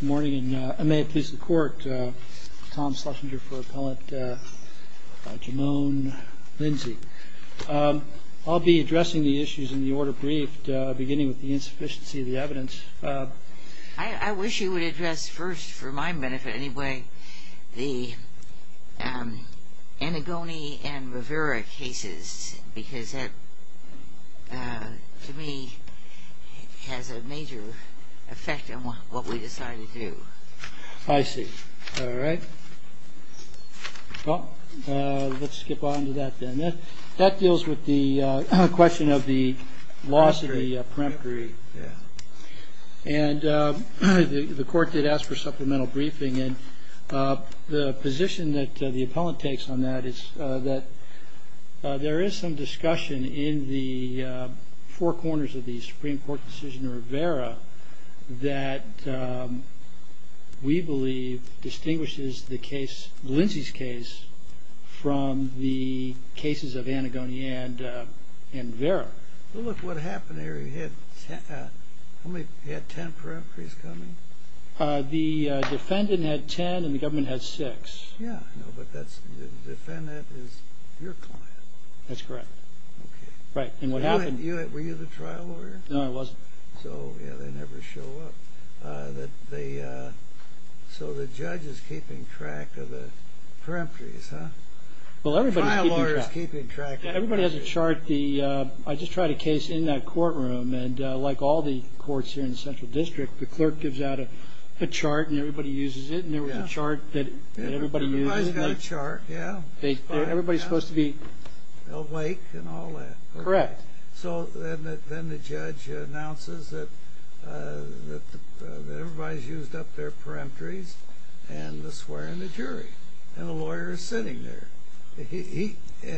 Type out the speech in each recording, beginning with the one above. Good morning, and may it please the court, Tom Schlesinger for Appellant Jamonn Lindsey. I'll be addressing the issues in the order briefed, beginning with the insufficiency of the evidence. I wish you would address first, for my benefit anyway, the Antigone and Rivera cases, because that, to me, has a major effect on what we decide to do. I see. All right. Well, let's skip on to that then. That deals with the question of the loss of the peremptory, and the court did ask for supplemental briefing. The position that the appellant takes on that is that there is some discussion in the four corners of the Supreme Court decision of Rivera that we believe distinguishes Lindsey's case from the cases of Antigone and Rivera. Well, look what happened there. He had ten peremptories coming? The defendant had ten, and the government had six. Yeah, but the defendant is your client. That's correct. Were you the trial lawyer? No, I wasn't. So, yeah, they never show up. So the judge is keeping track of the peremptories, huh? The trial lawyer is keeping track of the peremptories. Well, everybody has a chart. I just tried a case in that courtroom, and like all the courts here in the Central District, the clerk gives out a chart and everybody uses it, and there was a chart that everybody used. Everybody's got a chart, yeah. Everybody's supposed to be... Awake and all that. Correct. So then the judge announces that everybody's used up their peremptories, and they're swearing the jury, and the lawyer is sitting there, and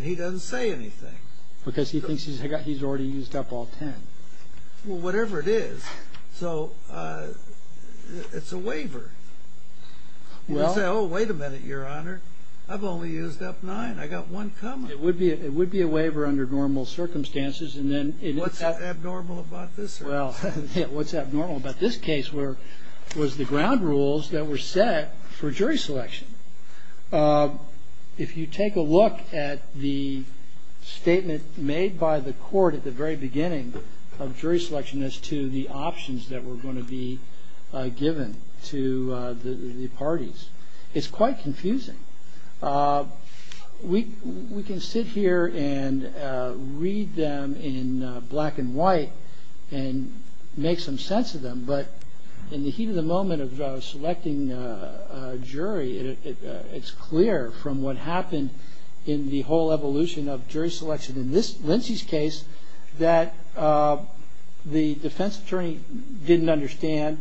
he doesn't say anything. Because he thinks he's already used up all ten. Well, whatever it is. So it's a waiver. You say, oh, wait a minute, Your Honor. I've only used up nine. I've got one coming. It would be a waiver under normal circumstances, and then... What's abnormal about this? Well, what's abnormal about this case was the ground rules that were set for jury selection. If you take a look at the statement made by the court at the very beginning of jury selection as to the options that were going to be given to the parties, it's quite confusing. We can sit here and read them in black and white and make some sense of them, but in the heat of the moment of selecting a jury, it's clear from what happened in the whole evolution of jury selection in Lindsay's case that the defense attorney didn't understand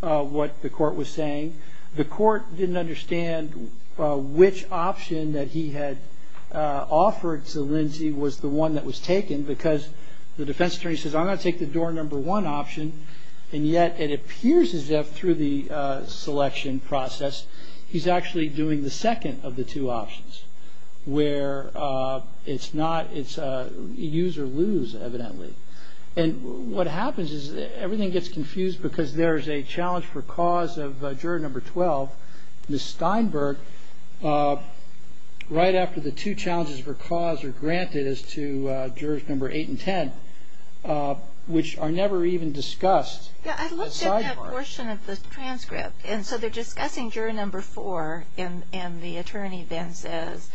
what the court was saying. The court didn't understand which option that he had offered to Lindsay was the one that was taken because the defense attorney says, I'm going to take the door number one option, and yet it appears as if through the selection process he's actually doing the second of the two options where it's a use or lose, evidently. And what happens is everything gets confused because there is a challenge for cause of juror number 12, Ms. Steinberg, right after the two challenges for cause are granted as to jurors number 8 and 10, which are never even discussed. Yeah, I looked at that portion of the transcript, and so they're discussing juror number 4, and the attorney then says,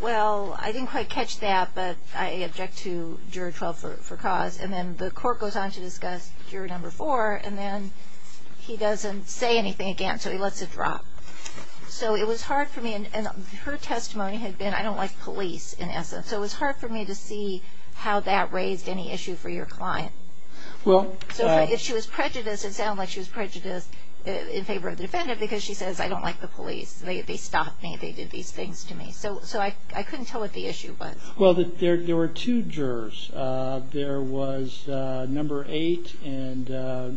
well, I didn't quite catch that, but I object to juror 12 for cause, and then the court goes on to discuss juror number 4, and then he doesn't say anything again, so he lets it drop. So it was hard for me, and her testimony had been, I don't like police in essence, so it was hard for me to see how that raised any issue for your client. So if she was prejudiced, it sounded like she was prejudiced in favor of the defendant because she says, I don't like the police. They stopped me. They did these things to me. So I couldn't tell what the issue was. Well, there were two jurors. There was number 8 and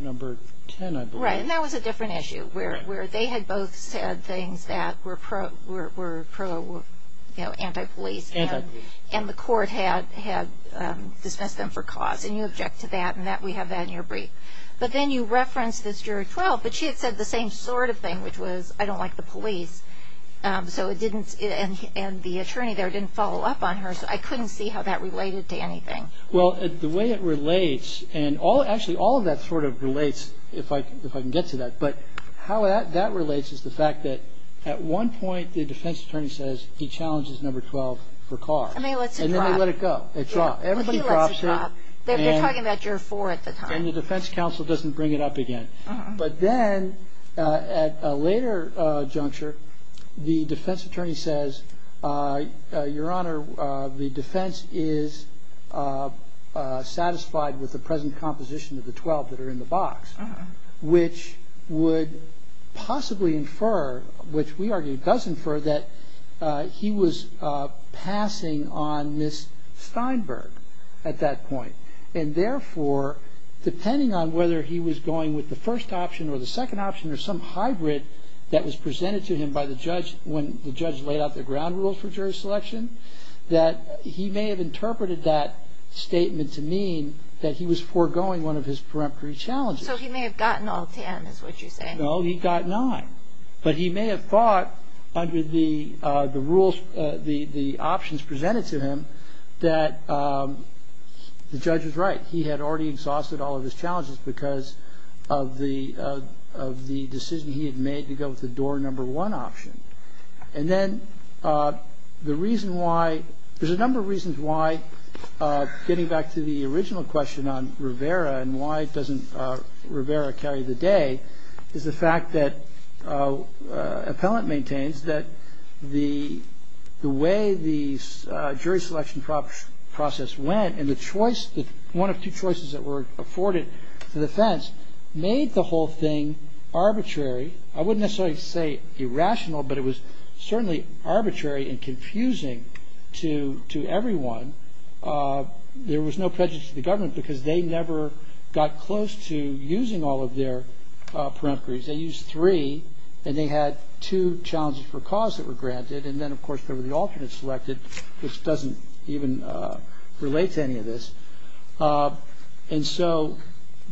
number 10, I believe. Right, and that was a different issue where they had both said things that were pro-anti-police, and the court had dismissed them for cause, and you object to that, and we have that in your brief. But then you referenced this juror 12, but she had said the same sort of thing, which was, I don't like the police, and the attorney there didn't follow up on her, so I couldn't see how that related to anything. Well, the way it relates, and actually all of that sort of relates, if I can get to that, but how that relates is the fact that at one point the defense attorney says he challenges number 12 for car, and then they let it go. It dropped. Everybody drops it. They're talking about juror 4 at the time. And the defense counsel doesn't bring it up again. But then at a later juncture, the defense attorney says, Your Honor, the defense is satisfied with the present composition of the 12 that are in the box, which would possibly infer, which we argue does infer, that he was passing on Ms. Steinberg at that point. And therefore, depending on whether he was going with the first option or the second option or some hybrid that was presented to him by the judge when the judge laid out the ground rules for jury selection, that he may have interpreted that statement to mean that he was foregoing one of his preemptory challenges. So he may have gotten all 10 is what you're saying. No, he got nine. But he may have thought under the rules, the options presented to him, that the judge was right. He had already exhausted all of his challenges because of the decision he had made to go with the door number one option. And then the reason why, there's a number of reasons why, getting back to the original question on Rivera and why doesn't Rivera carry the day is the fact that appellant maintains that the way the jury selection process went and the choice, one of two choices that were afforded to the defense made the whole thing arbitrary. I wouldn't necessarily say irrational, but it was certainly arbitrary and confusing to everyone. There was no prejudice to the government because they never got close to using all of their preemptories. They used three, and they had two challenges for cause that were granted. And then, of course, there were the alternates selected, which doesn't even relate to any of this. And so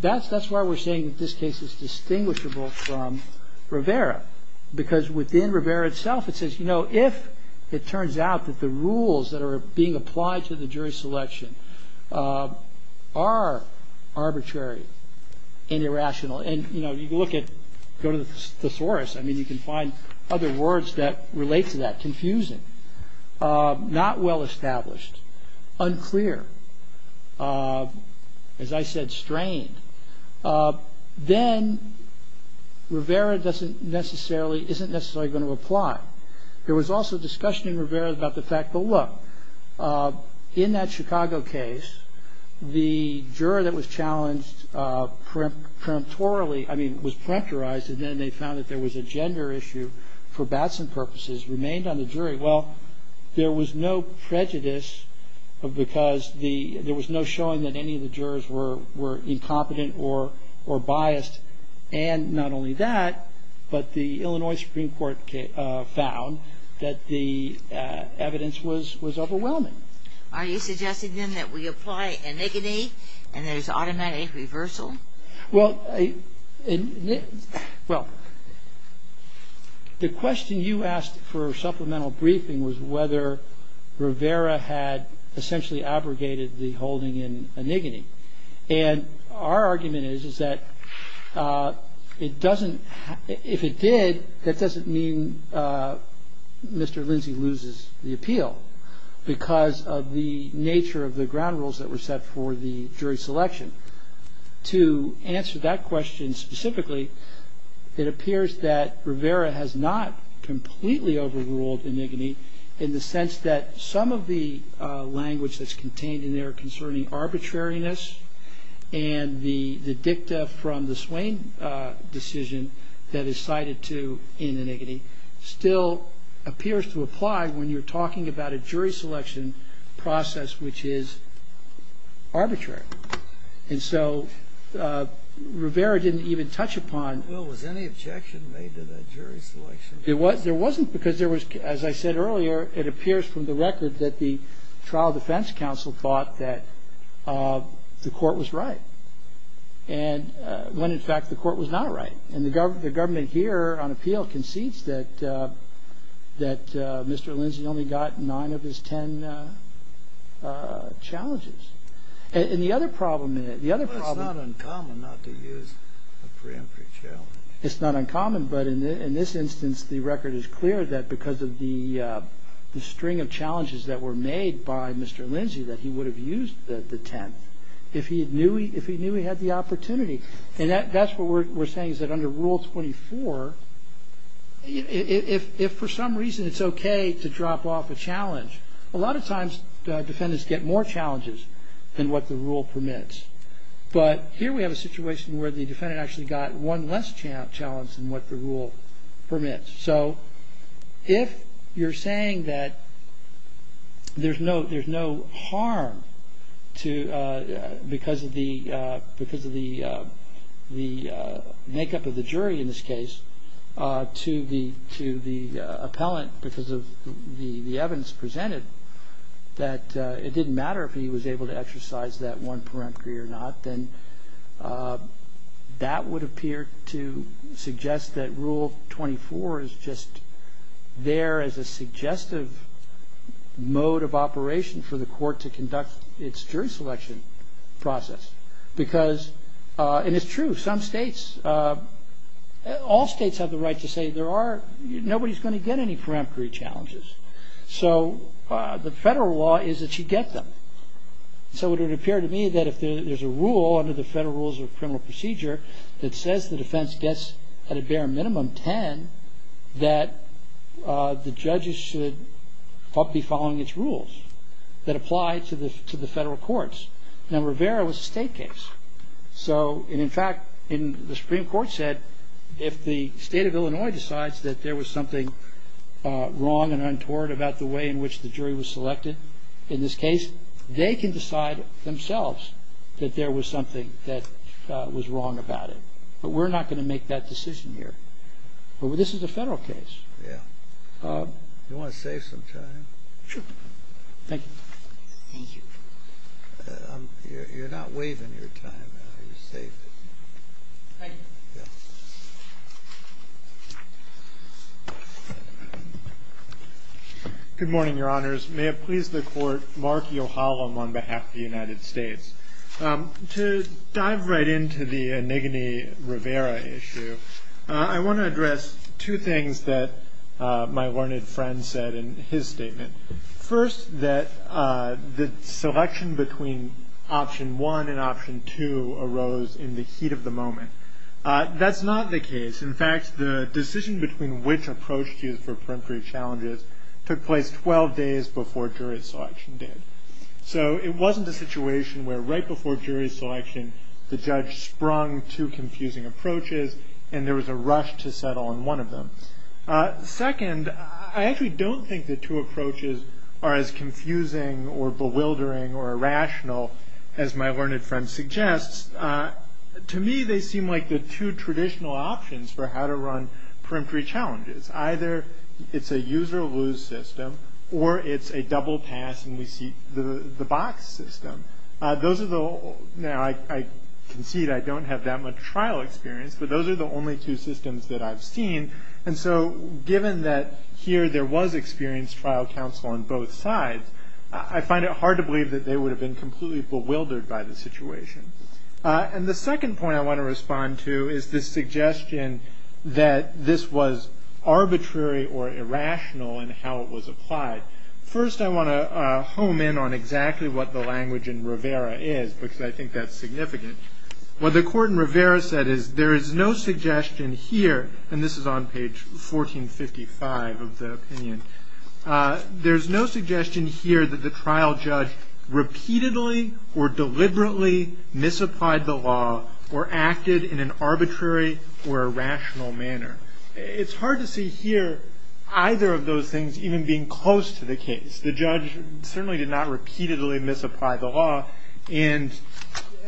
that's why we're saying that this case is distinguishable from Rivera, because within Rivera itself, it says, you know, if it turns out that the rules that are being applied to the jury selection are arbitrary and irrational, and, you know, you look at, go to the thesaurus, I mean, you can find other words that relate to that, confusing, not well established, unclear, as I said, strained, then Rivera doesn't necessarily, isn't necessarily going to apply. There was also discussion in Rivera about the fact that, look, in that Chicago case, the juror that was challenged preemptorily, I mean, was preemptorized, and then they found that there was a gender issue for Batson purposes remained on the jury. Well, there was no prejudice, because there was no showing that any of the jurors were incompetent or biased. And not only that, but the Illinois Supreme Court found that the evidence was overwhelming. Are you suggesting, then, that we apply anigone, and there's automatic reversal? Well, well, the question you asked for supplemental briefing was whether Rivera had essentially abrogated the holding in anigone. And our argument is, is that it doesn't, if it did, that doesn't mean Mr. Lindsay loses the appeal, because of the nature of the ground rules that were set for the jury selection. To answer that question specifically, it appears that Rivera has not completely overruled anigone, in the sense that some of the language that's contained in there concerning arbitrariness and the dicta from the Swain decision that is cited to in anigone still appears to apply when you're talking about a jury selection process which is arbitrary. And so Rivera didn't even touch upon Well, was any objection made to that jury selection? There wasn't, because there was, as I said earlier, it appears from the record that the trial defense counsel thought that the court was right, when in fact the court was not right. And the government here on appeal concedes that Mr. Lindsay only got nine of his ten challenges. And the other problem is Well, it's not uncommon not to use a preemptory challenge. It's not uncommon, but in this instance the record is clear that because of the string of challenges that were made by Mr. Lindsay that he would have used the tenth if he knew he had the opportunity. And that's what we're saying is that under Rule 24, if for some reason it's okay to drop off a challenge, a lot of times defendants get more challenges than what the rule permits. But here we have a situation where the defendant actually got one less challenge than what the rule permits. So if you're saying that there's no harm because of the makeup of the jury in this case to the appellant because of the evidence presented that it didn't matter if he was able to exercise that one preemptory or not, then that would appear to suggest that Rule 24 is just there as a suggestive mode of operation for the court to conduct its jury selection process. Because, and it's true, some states, all states have the right to say there are, nobody's going to get any preemptory challenges. So the federal law is that you get them. So it would appear to me that if there's a rule under the Federal Rules of Criminal Procedure that says the defense gets, at a bare minimum, ten, that the judges should be following its rules that apply to the federal courts. Now, Rivera was a state case. So, and in fact, the Supreme Court said if the state of Illinois decides that there was something wrong and untoward about the way in which the jury was selected in this case, they can decide themselves that there was something that was wrong about it. But we're not going to make that decision here. But this is a federal case. Yeah. You want to save some time? Sure. Thank you. Thank you. You're not waiving your time. You saved it. Thank you. Yeah. Good morning, Your Honors. May it please the Court, Mark Yohalam on behalf of the United States. To dive right into the Enigine Rivera issue, I want to address two things that my learned friend said in his statement. First, that the selection between option one and option two arose in the heat of the moment. That's not the case. In fact, the decision between which approach to use for peremptory challenges took place 12 days before jury selection did. So it wasn't a situation where right before jury selection the judge sprung two confusing approaches and there was a rush to settle on one of them. Second, I actually don't think the two approaches are as confusing or bewildering or irrational as my learned friend suggests. To me, they seem like the two traditional options for how to run peremptory challenges. Either it's a use or lose system or it's a double pass and we see the box system. Now, I concede I don't have that much trial experience, but those are the only two systems that I've seen. And so given that here there was experienced trial counsel on both sides, I find it hard to believe that they would have been completely bewildered by the situation. And the second point I want to respond to is this suggestion that this was arbitrary or irrational in how it was applied. First, I want to home in on exactly what the language in Rivera is, because I think that's significant. What the court in Rivera said is there is no suggestion here. And this is on page 1455 of the opinion. There's no suggestion here that the trial judge repeatedly or deliberately misapplied the law or acted in an arbitrary or irrational manner. It's hard to see here either of those things even being close to the case. The judge certainly did not repeatedly misapply the law. And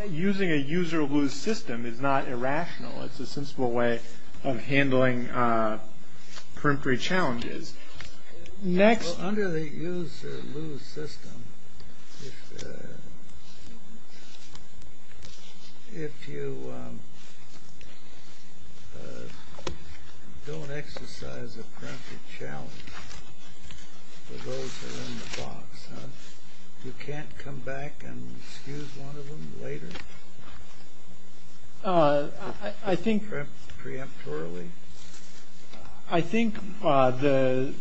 using a use or lose system is not irrational. It's a sensible way of handling peremptory challenges. Next. So under the use or lose system, if you don't exercise a peremptory challenge, for those who are in the box, you can't come back and excuse one of them later? I think. Preemptorily? I think the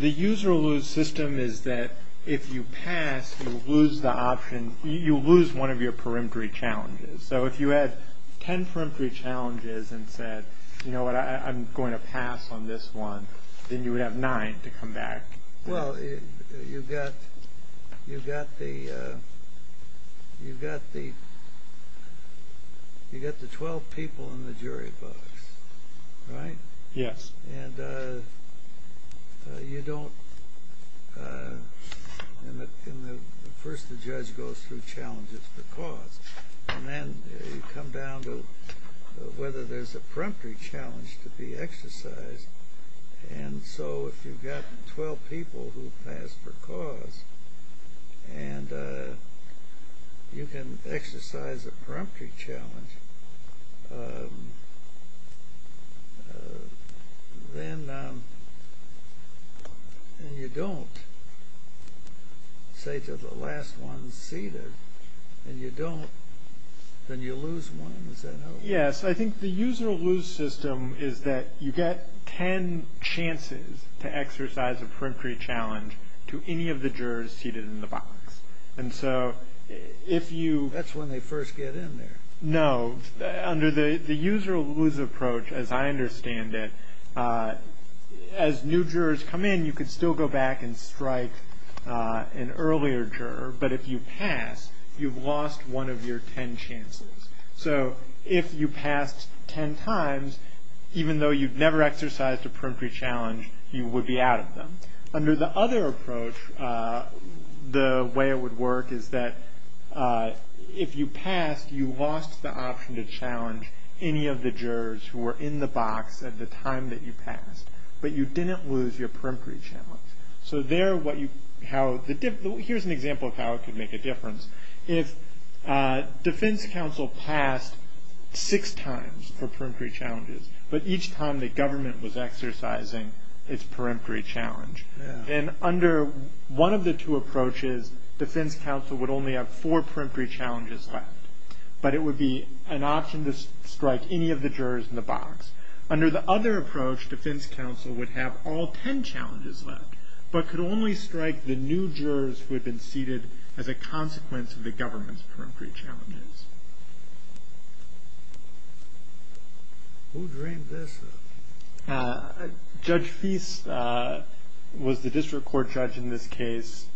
use or lose system is that if you pass, you lose the option. You lose one of your peremptory challenges. So if you had ten peremptory challenges and said, you know what, I'm going to pass on this one, then you would have nine to come back. Well, you've got the 12 people in the jury box, right? Yes. And first the judge goes through challenges for cause. And then you come down to whether there's a peremptory challenge to be exercised. And so if you've got 12 people who pass for cause and you can exercise a peremptory challenge, then you don't say to the last one seated, and you don't, then you lose one. Yes. I think the use or lose system is that you get ten chances to exercise a peremptory challenge to any of the jurors seated in the box. That's when they first get in there. No. Under the use or lose approach, as I understand it, as new jurors come in, you can still go back and strike an earlier juror. But if you pass, you've lost one of your ten chances. So if you passed ten times, even though you've never exercised a peremptory challenge, you would be out of them. Under the other approach, the way it would work is that if you passed, you lost the option to challenge any of the jurors who were in the box at the time that you passed. But you didn't lose your peremptory challenge. So there what you, how, here's an example of how it could make a difference. If defense counsel passed six times for peremptory challenges, but each time the government was exercising its peremptory challenge, then under one of the two approaches, defense counsel would only have four peremptory challenges left. But it would be an option to strike any of the jurors in the box. Under the other approach, defense counsel would have all ten challenges left, but could only strike the new jurors who had been seated as a consequence of the government's peremptory challenges. Who dreamed this? Judge Feist was the district court judge in this case.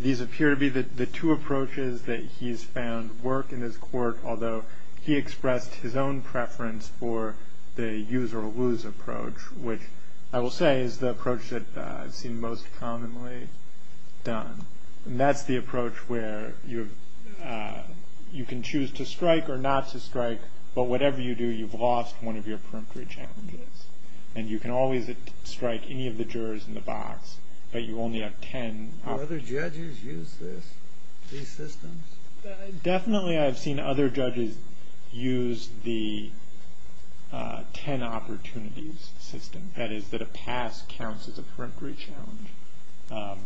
These appear to be the two approaches that he's found work in his court, although he expressed his own preference for the use or lose approach, which I will say is the approach that I've seen most commonly done. And that's the approach where you can choose to strike or not to strike, but whatever you do, you've lost one of your peremptory challenges. And you can always strike any of the jurors in the box, but you only have ten. Do other judges use this, these systems? Definitely I've seen other judges use the ten opportunities system. That is, that a pass counts as a peremptory challenge.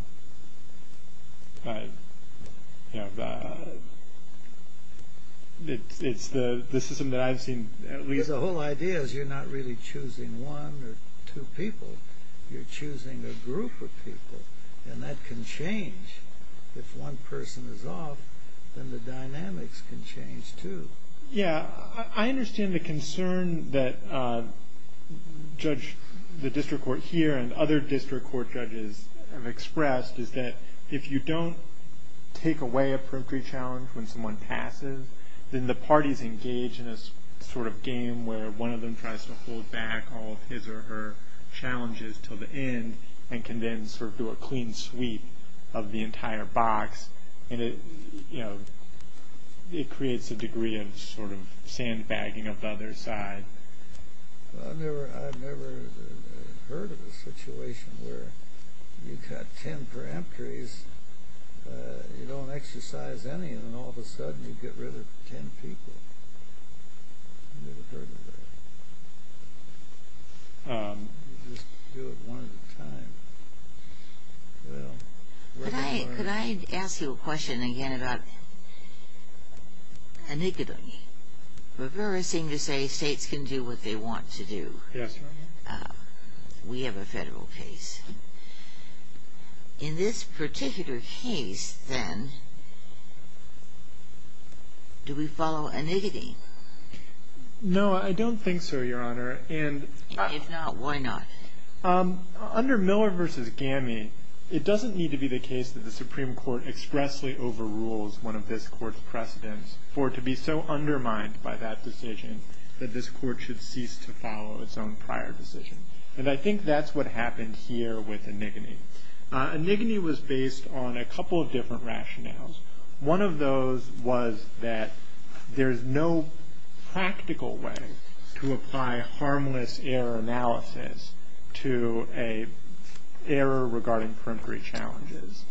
It's the system that I've seen. The whole idea is you're not really choosing one or two people. You're choosing a group of people, and that can change. If one person is off, then the dynamics can change, too. Yeah, I understand the concern that the district court here and other district court judges have expressed is that if you don't take away a peremptory challenge when someone passes, then the parties engage in a sort of game where one of them tries to hold back all of his or her challenges until the end and can then sort of do a clean sweep of the entire box. And it creates a degree of sort of sandbagging of the other side. I've never heard of a situation where you've got ten peremptories, you don't exercise any, and all of a sudden you get rid of ten people. I've never heard of that. Let me just do it one at a time. Could I ask you a question again about enigma? Rivera seemed to say states can do what they want to do. Yes, ma'am. We have a federal case. In this particular case, then, do we follow enigma? No, I don't think so, Your Honor. If not, why not? Under Miller v. Gammy, it doesn't need to be the case that the Supreme Court expressly overrules one of this court's precedents for it to be so undermined by that decision that this court should cease to follow its own prior decision. And I think that's what happened here with enigma. Enigma was based on a couple of different rationales. One of those was that there's no practical way to apply harmless error analysis to an error regarding peremptory challenges.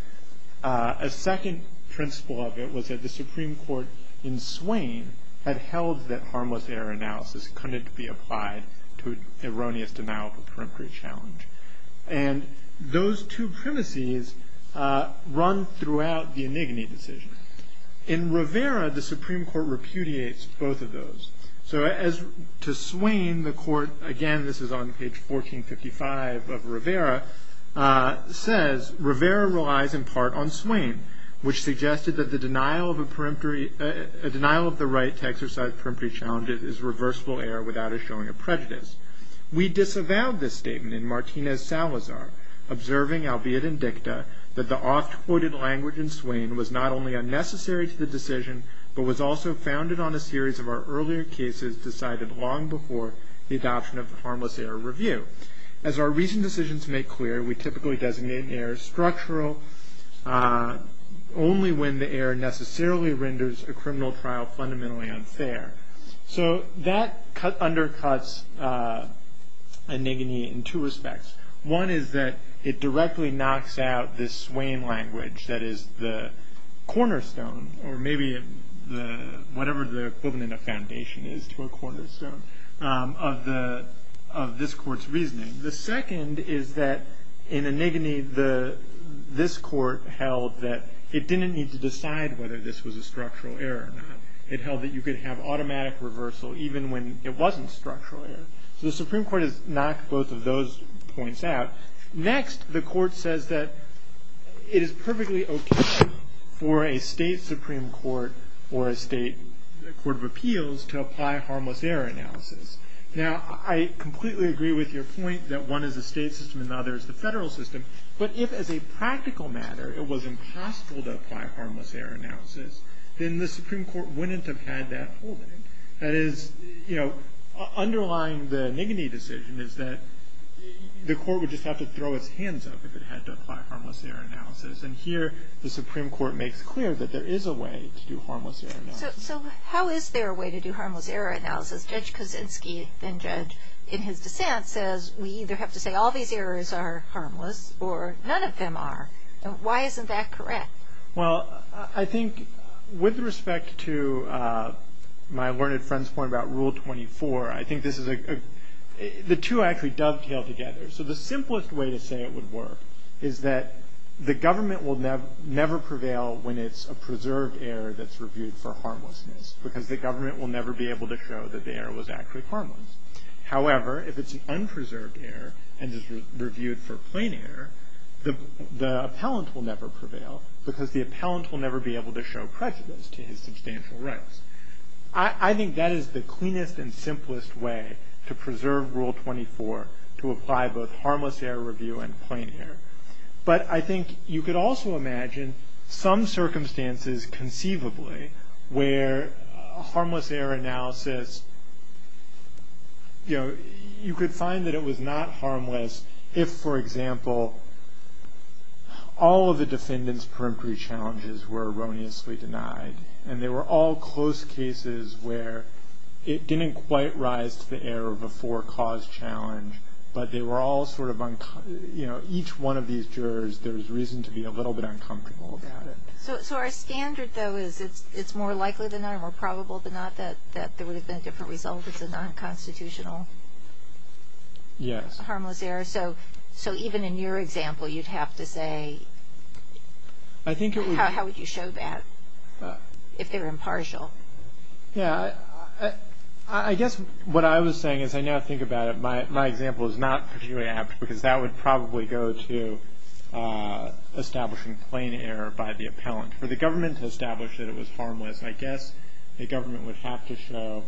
A second principle of it was that the Supreme Court in Swain had held that harmless error analysis couldn't be applied to an erroneous denial of a peremptory challenge. And those two premises run throughout the enigma decision. In Rivera, the Supreme Court repudiates both of those. So as to Swain, the court, again, this is on page 1455 of Rivera, says, Rivera relies in part on Swain, which suggested that the denial of the right to exercise peremptory challenges is reversible error without a showing of prejudice. We disavowed this statement in Martinez-Salazar, observing, albeit in dicta, that the oft-quoted language in Swain was not only unnecessary to the decision, but was also founded on a series of our earlier cases decided long before the adoption of the harmless error review. As our recent decisions make clear, we typically designate errors structural only when the error necessarily renders a criminal trial fundamentally unfair. So that undercuts an enigma in two respects. One is that it directly knocks out this Swain language that is the cornerstone, or maybe whatever the equivalent of foundation is to a cornerstone, of this court's reasoning. The second is that in an enigma, this court held that it didn't need to decide whether this was a structural error or not. It held that you could have automatic reversal even when it wasn't structural error. So the Supreme Court has knocked both of those points out. Next, the court says that it is perfectly okay for a state Supreme Court or a state court of appeals to apply harmless error analysis. Now, I completely agree with your point that one is the state system and the other is the federal system. But if, as a practical matter, it was impossible to apply harmless error analysis, then the Supreme Court wouldn't have had that holding. That is, you know, underlying the Niggany decision is that the court would just have to throw its hands up if it had to apply harmless error analysis. And here, the Supreme Court makes clear that there is a way to do harmless error analysis. So how is there a way to do harmless error analysis? Judge Kosinski, then judge, in his dissent says, we either have to say all these errors are harmless or none of them are. Why isn't that correct? Well, I think with respect to my learned friend's point about Rule 24, I think this is a – the two actually dovetail together. So the simplest way to say it would work is that the government will never prevail when it's a preserved error that's reviewed for harmlessness because the government will never be able to show that the error was actually harmless. However, if it's an unpreserved error and is reviewed for plain error, the appellant will never prevail because the appellant will never be able to show prejudice to his substantial rights. I think that is the cleanest and simplest way to preserve Rule 24 to apply both harmless error review and plain error. But I think you could also imagine some circumstances conceivably where harmless error analysis, you know, you could find that it was not harmless if, for example, all of the defendant's perimetry challenges were erroneously denied and they were all close cases where it didn't quite rise to the error of a four-cause challenge, but they were all sort of – you know, each one of these jurors, there's reason to be a little bit uncomfortable about it. So our standard, though, is it's more likely than not or more probable than not that there would have been a different result if it's a non-constitutional harmless error. So even in your example, you'd have to say – how would you show that if they're impartial? Yeah, I guess what I was saying as I now think about it, my example is not particularly apt because that would probably go to establishing plain error by the appellant. For the government to establish that it was harmless, I guess the government would have to show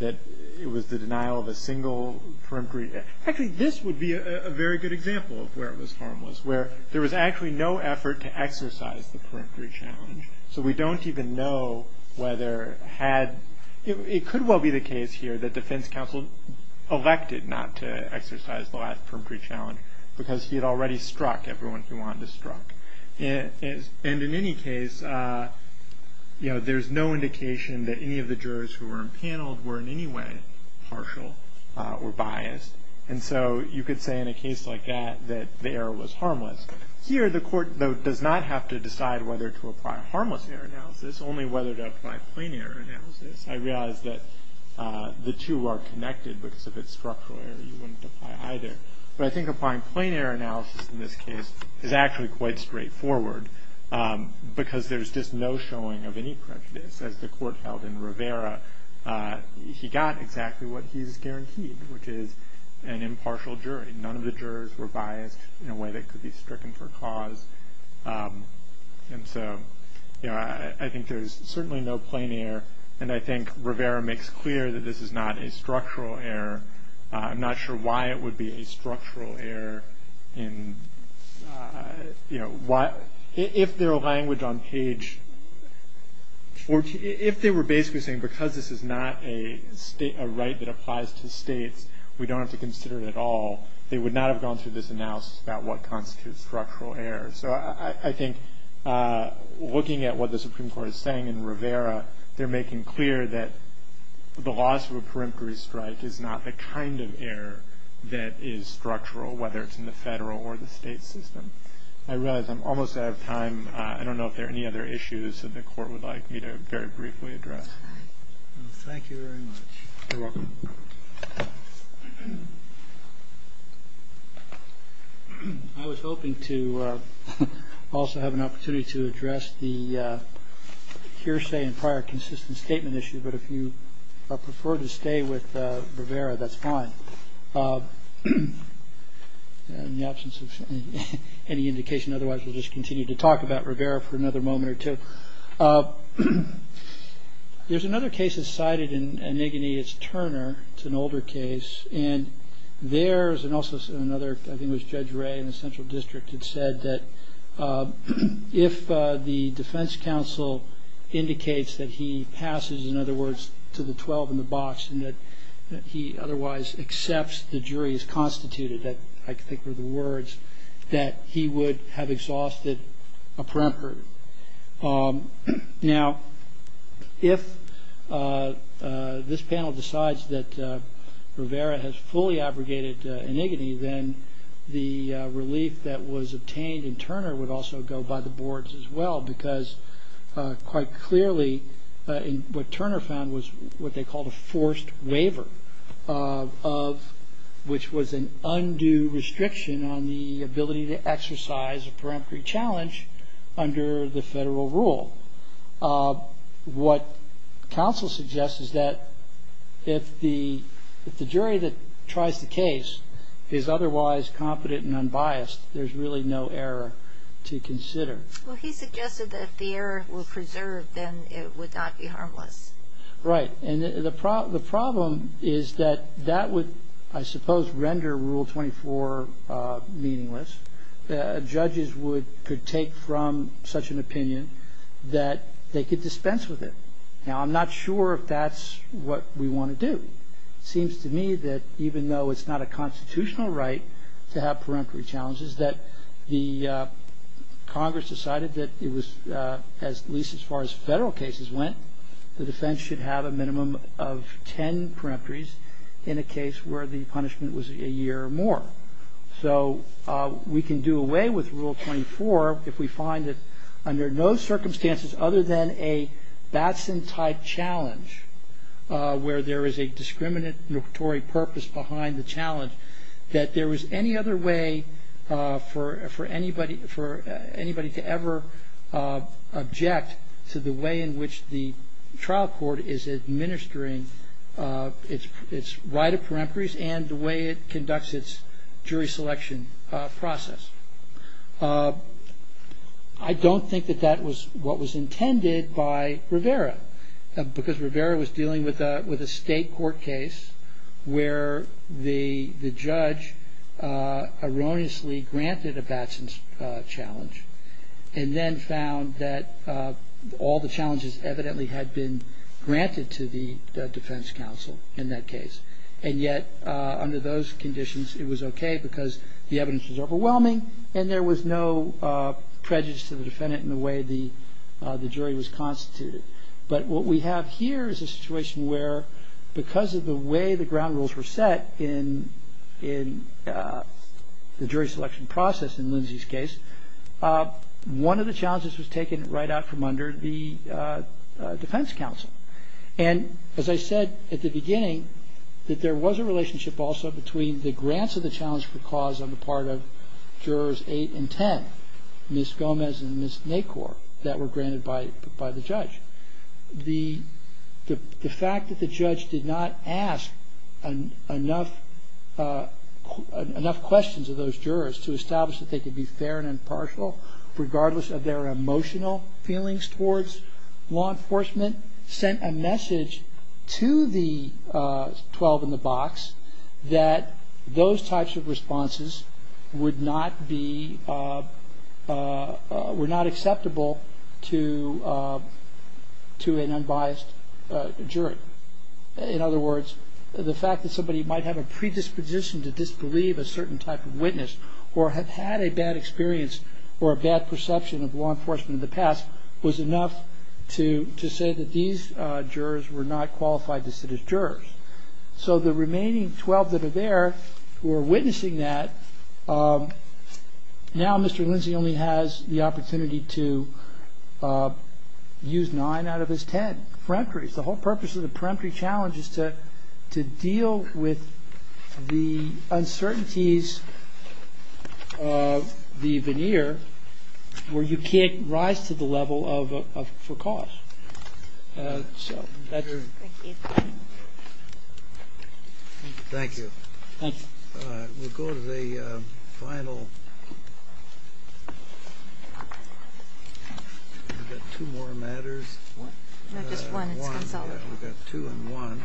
that it was the denial of a single perimetry. Actually, this would be a very good example of where it was harmless, where there was actually no effort to exercise the perimetry challenge. So we don't even know whether – it could well be the case here that defense counsel elected not to exercise the last perimetry challenge because he had already struck everyone he wanted to struck. And in any case, there's no indication that any of the jurors who were impaneled were in any way partial or biased. And so you could say in a case like that that the error was harmless. Here, the court, though, does not have to decide whether to apply harmless error analysis, only whether to apply plain error analysis. I realize that the two are connected because if it's structural error, you wouldn't apply either. But I think applying plain error analysis in this case is actually quite straightforward because there's just no showing of any prejudice. As the court held in Rivera, he got exactly what he's guaranteed, which is an impartial jury. None of the jurors were biased in a way that could be stricken for cause. And so I think there's certainly no plain error, and I think Rivera makes clear that this is not a structural error. I'm not sure why it would be a structural error in, you know, if their language on page 14, if they were basically saying because this is not a right that applies to states, we don't have to consider it at all, they would not have gone through this analysis about what constitutes structural error. So I think looking at what the Supreme Court is saying in Rivera, they're making clear that the loss of a peremptory strike is not the kind of error that is structural, whether it's in the federal or the state system. I realize I'm almost out of time. I don't know if there are any other issues that the court would like me to very briefly address. Thank you very much. You're welcome. I was hoping to also have an opportunity to address the hearsay and prior consistent statement issue. But if you prefer to stay with Rivera, that's fine in the absence of any indication. Otherwise, we'll just continue to talk about Rivera for another moment or two. There's another case that's cited in Enigine. It's Turner. It's an older case. And there's also another, I think it was Judge Ray in the Central District, had said that if the defense counsel indicates that he passes, in other words, to the 12 in the box and that he otherwise accepts the jury's constituted, that I think were the words, that he would have exhausted a peremptory. Now, if this panel decides that Rivera has fully abrogated Enigine, then the relief that was obtained in Turner would also go by the boards as well, because quite clearly what Turner found was what they called a forced waiver, which was an undue restriction on the ability to exercise a peremptory challenge under the federal rule. What counsel suggests is that if the jury that tries the case is otherwise competent and unbiased, there's really no error to consider. Well, he suggested that if the error were preserved, then it would not be harmless. Right. And the problem is that that would, I suppose, render Rule 24 meaningless. Judges could take from such an opinion that they could dispense with it. Now, I'm not sure if that's what we want to do. It seems to me that even though it's not a constitutional right to have peremptory challenges, that the Congress decided that it was, at least as far as federal cases went, the defense should have a minimum of ten peremptories in a case where the punishment was a year or more. So we can do away with Rule 24 if we find that under no circumstances other than a Batson-type challenge, where there is a discriminatory purpose behind the challenge, that there was any other way for anybody to ever object to the way in which the trial court is administering its right of peremptories and the way it conducts its jury selection process. I don't think that that was what was intended by Rivera, because Rivera was dealing with a state court case where the judge erroneously granted a Batson challenge and then found that all the challenges evidently had been granted to the defense counsel in that case. And yet under those conditions, it was okay because the evidence was overwhelming and there was no prejudice to the defendant in the way the jury was constituted. But what we have here is a situation where because of the way the ground rules were set in the jury selection process in Lindsay's case, one of the challenges was taken right out from under the defense counsel. And as I said at the beginning, that there was a relationship also between the grants of the challenge for cause on the part of jurors 8 and 10, Ms. Gomez and Ms. Nacor, that were granted by the judge. The fact that the judge did not ask enough questions of those jurors to establish that they could be fair and impartial regardless of their emotional feelings towards law enforcement sent a message to the 12 in the box that those types of responses were not acceptable to an unbiased juror. In other words, the fact that somebody might have a predisposition to disbelieve a certain type of witness or have had a bad experience or a bad perception of law enforcement in the past was enough to say that these jurors were not qualified to sit as jurors. So the remaining 12 that are there who are witnessing that, now Mr. Lindsay only has the opportunity to use 9 out of his 10. The whole purpose of the peremptory challenge is to deal with the uncertainties of the veneer where you can't rise to the level for cause. So, better... Thank you. Thanks. We'll go to the final... We've got two more matters. Not just one, it's consolidated. We've got two and one.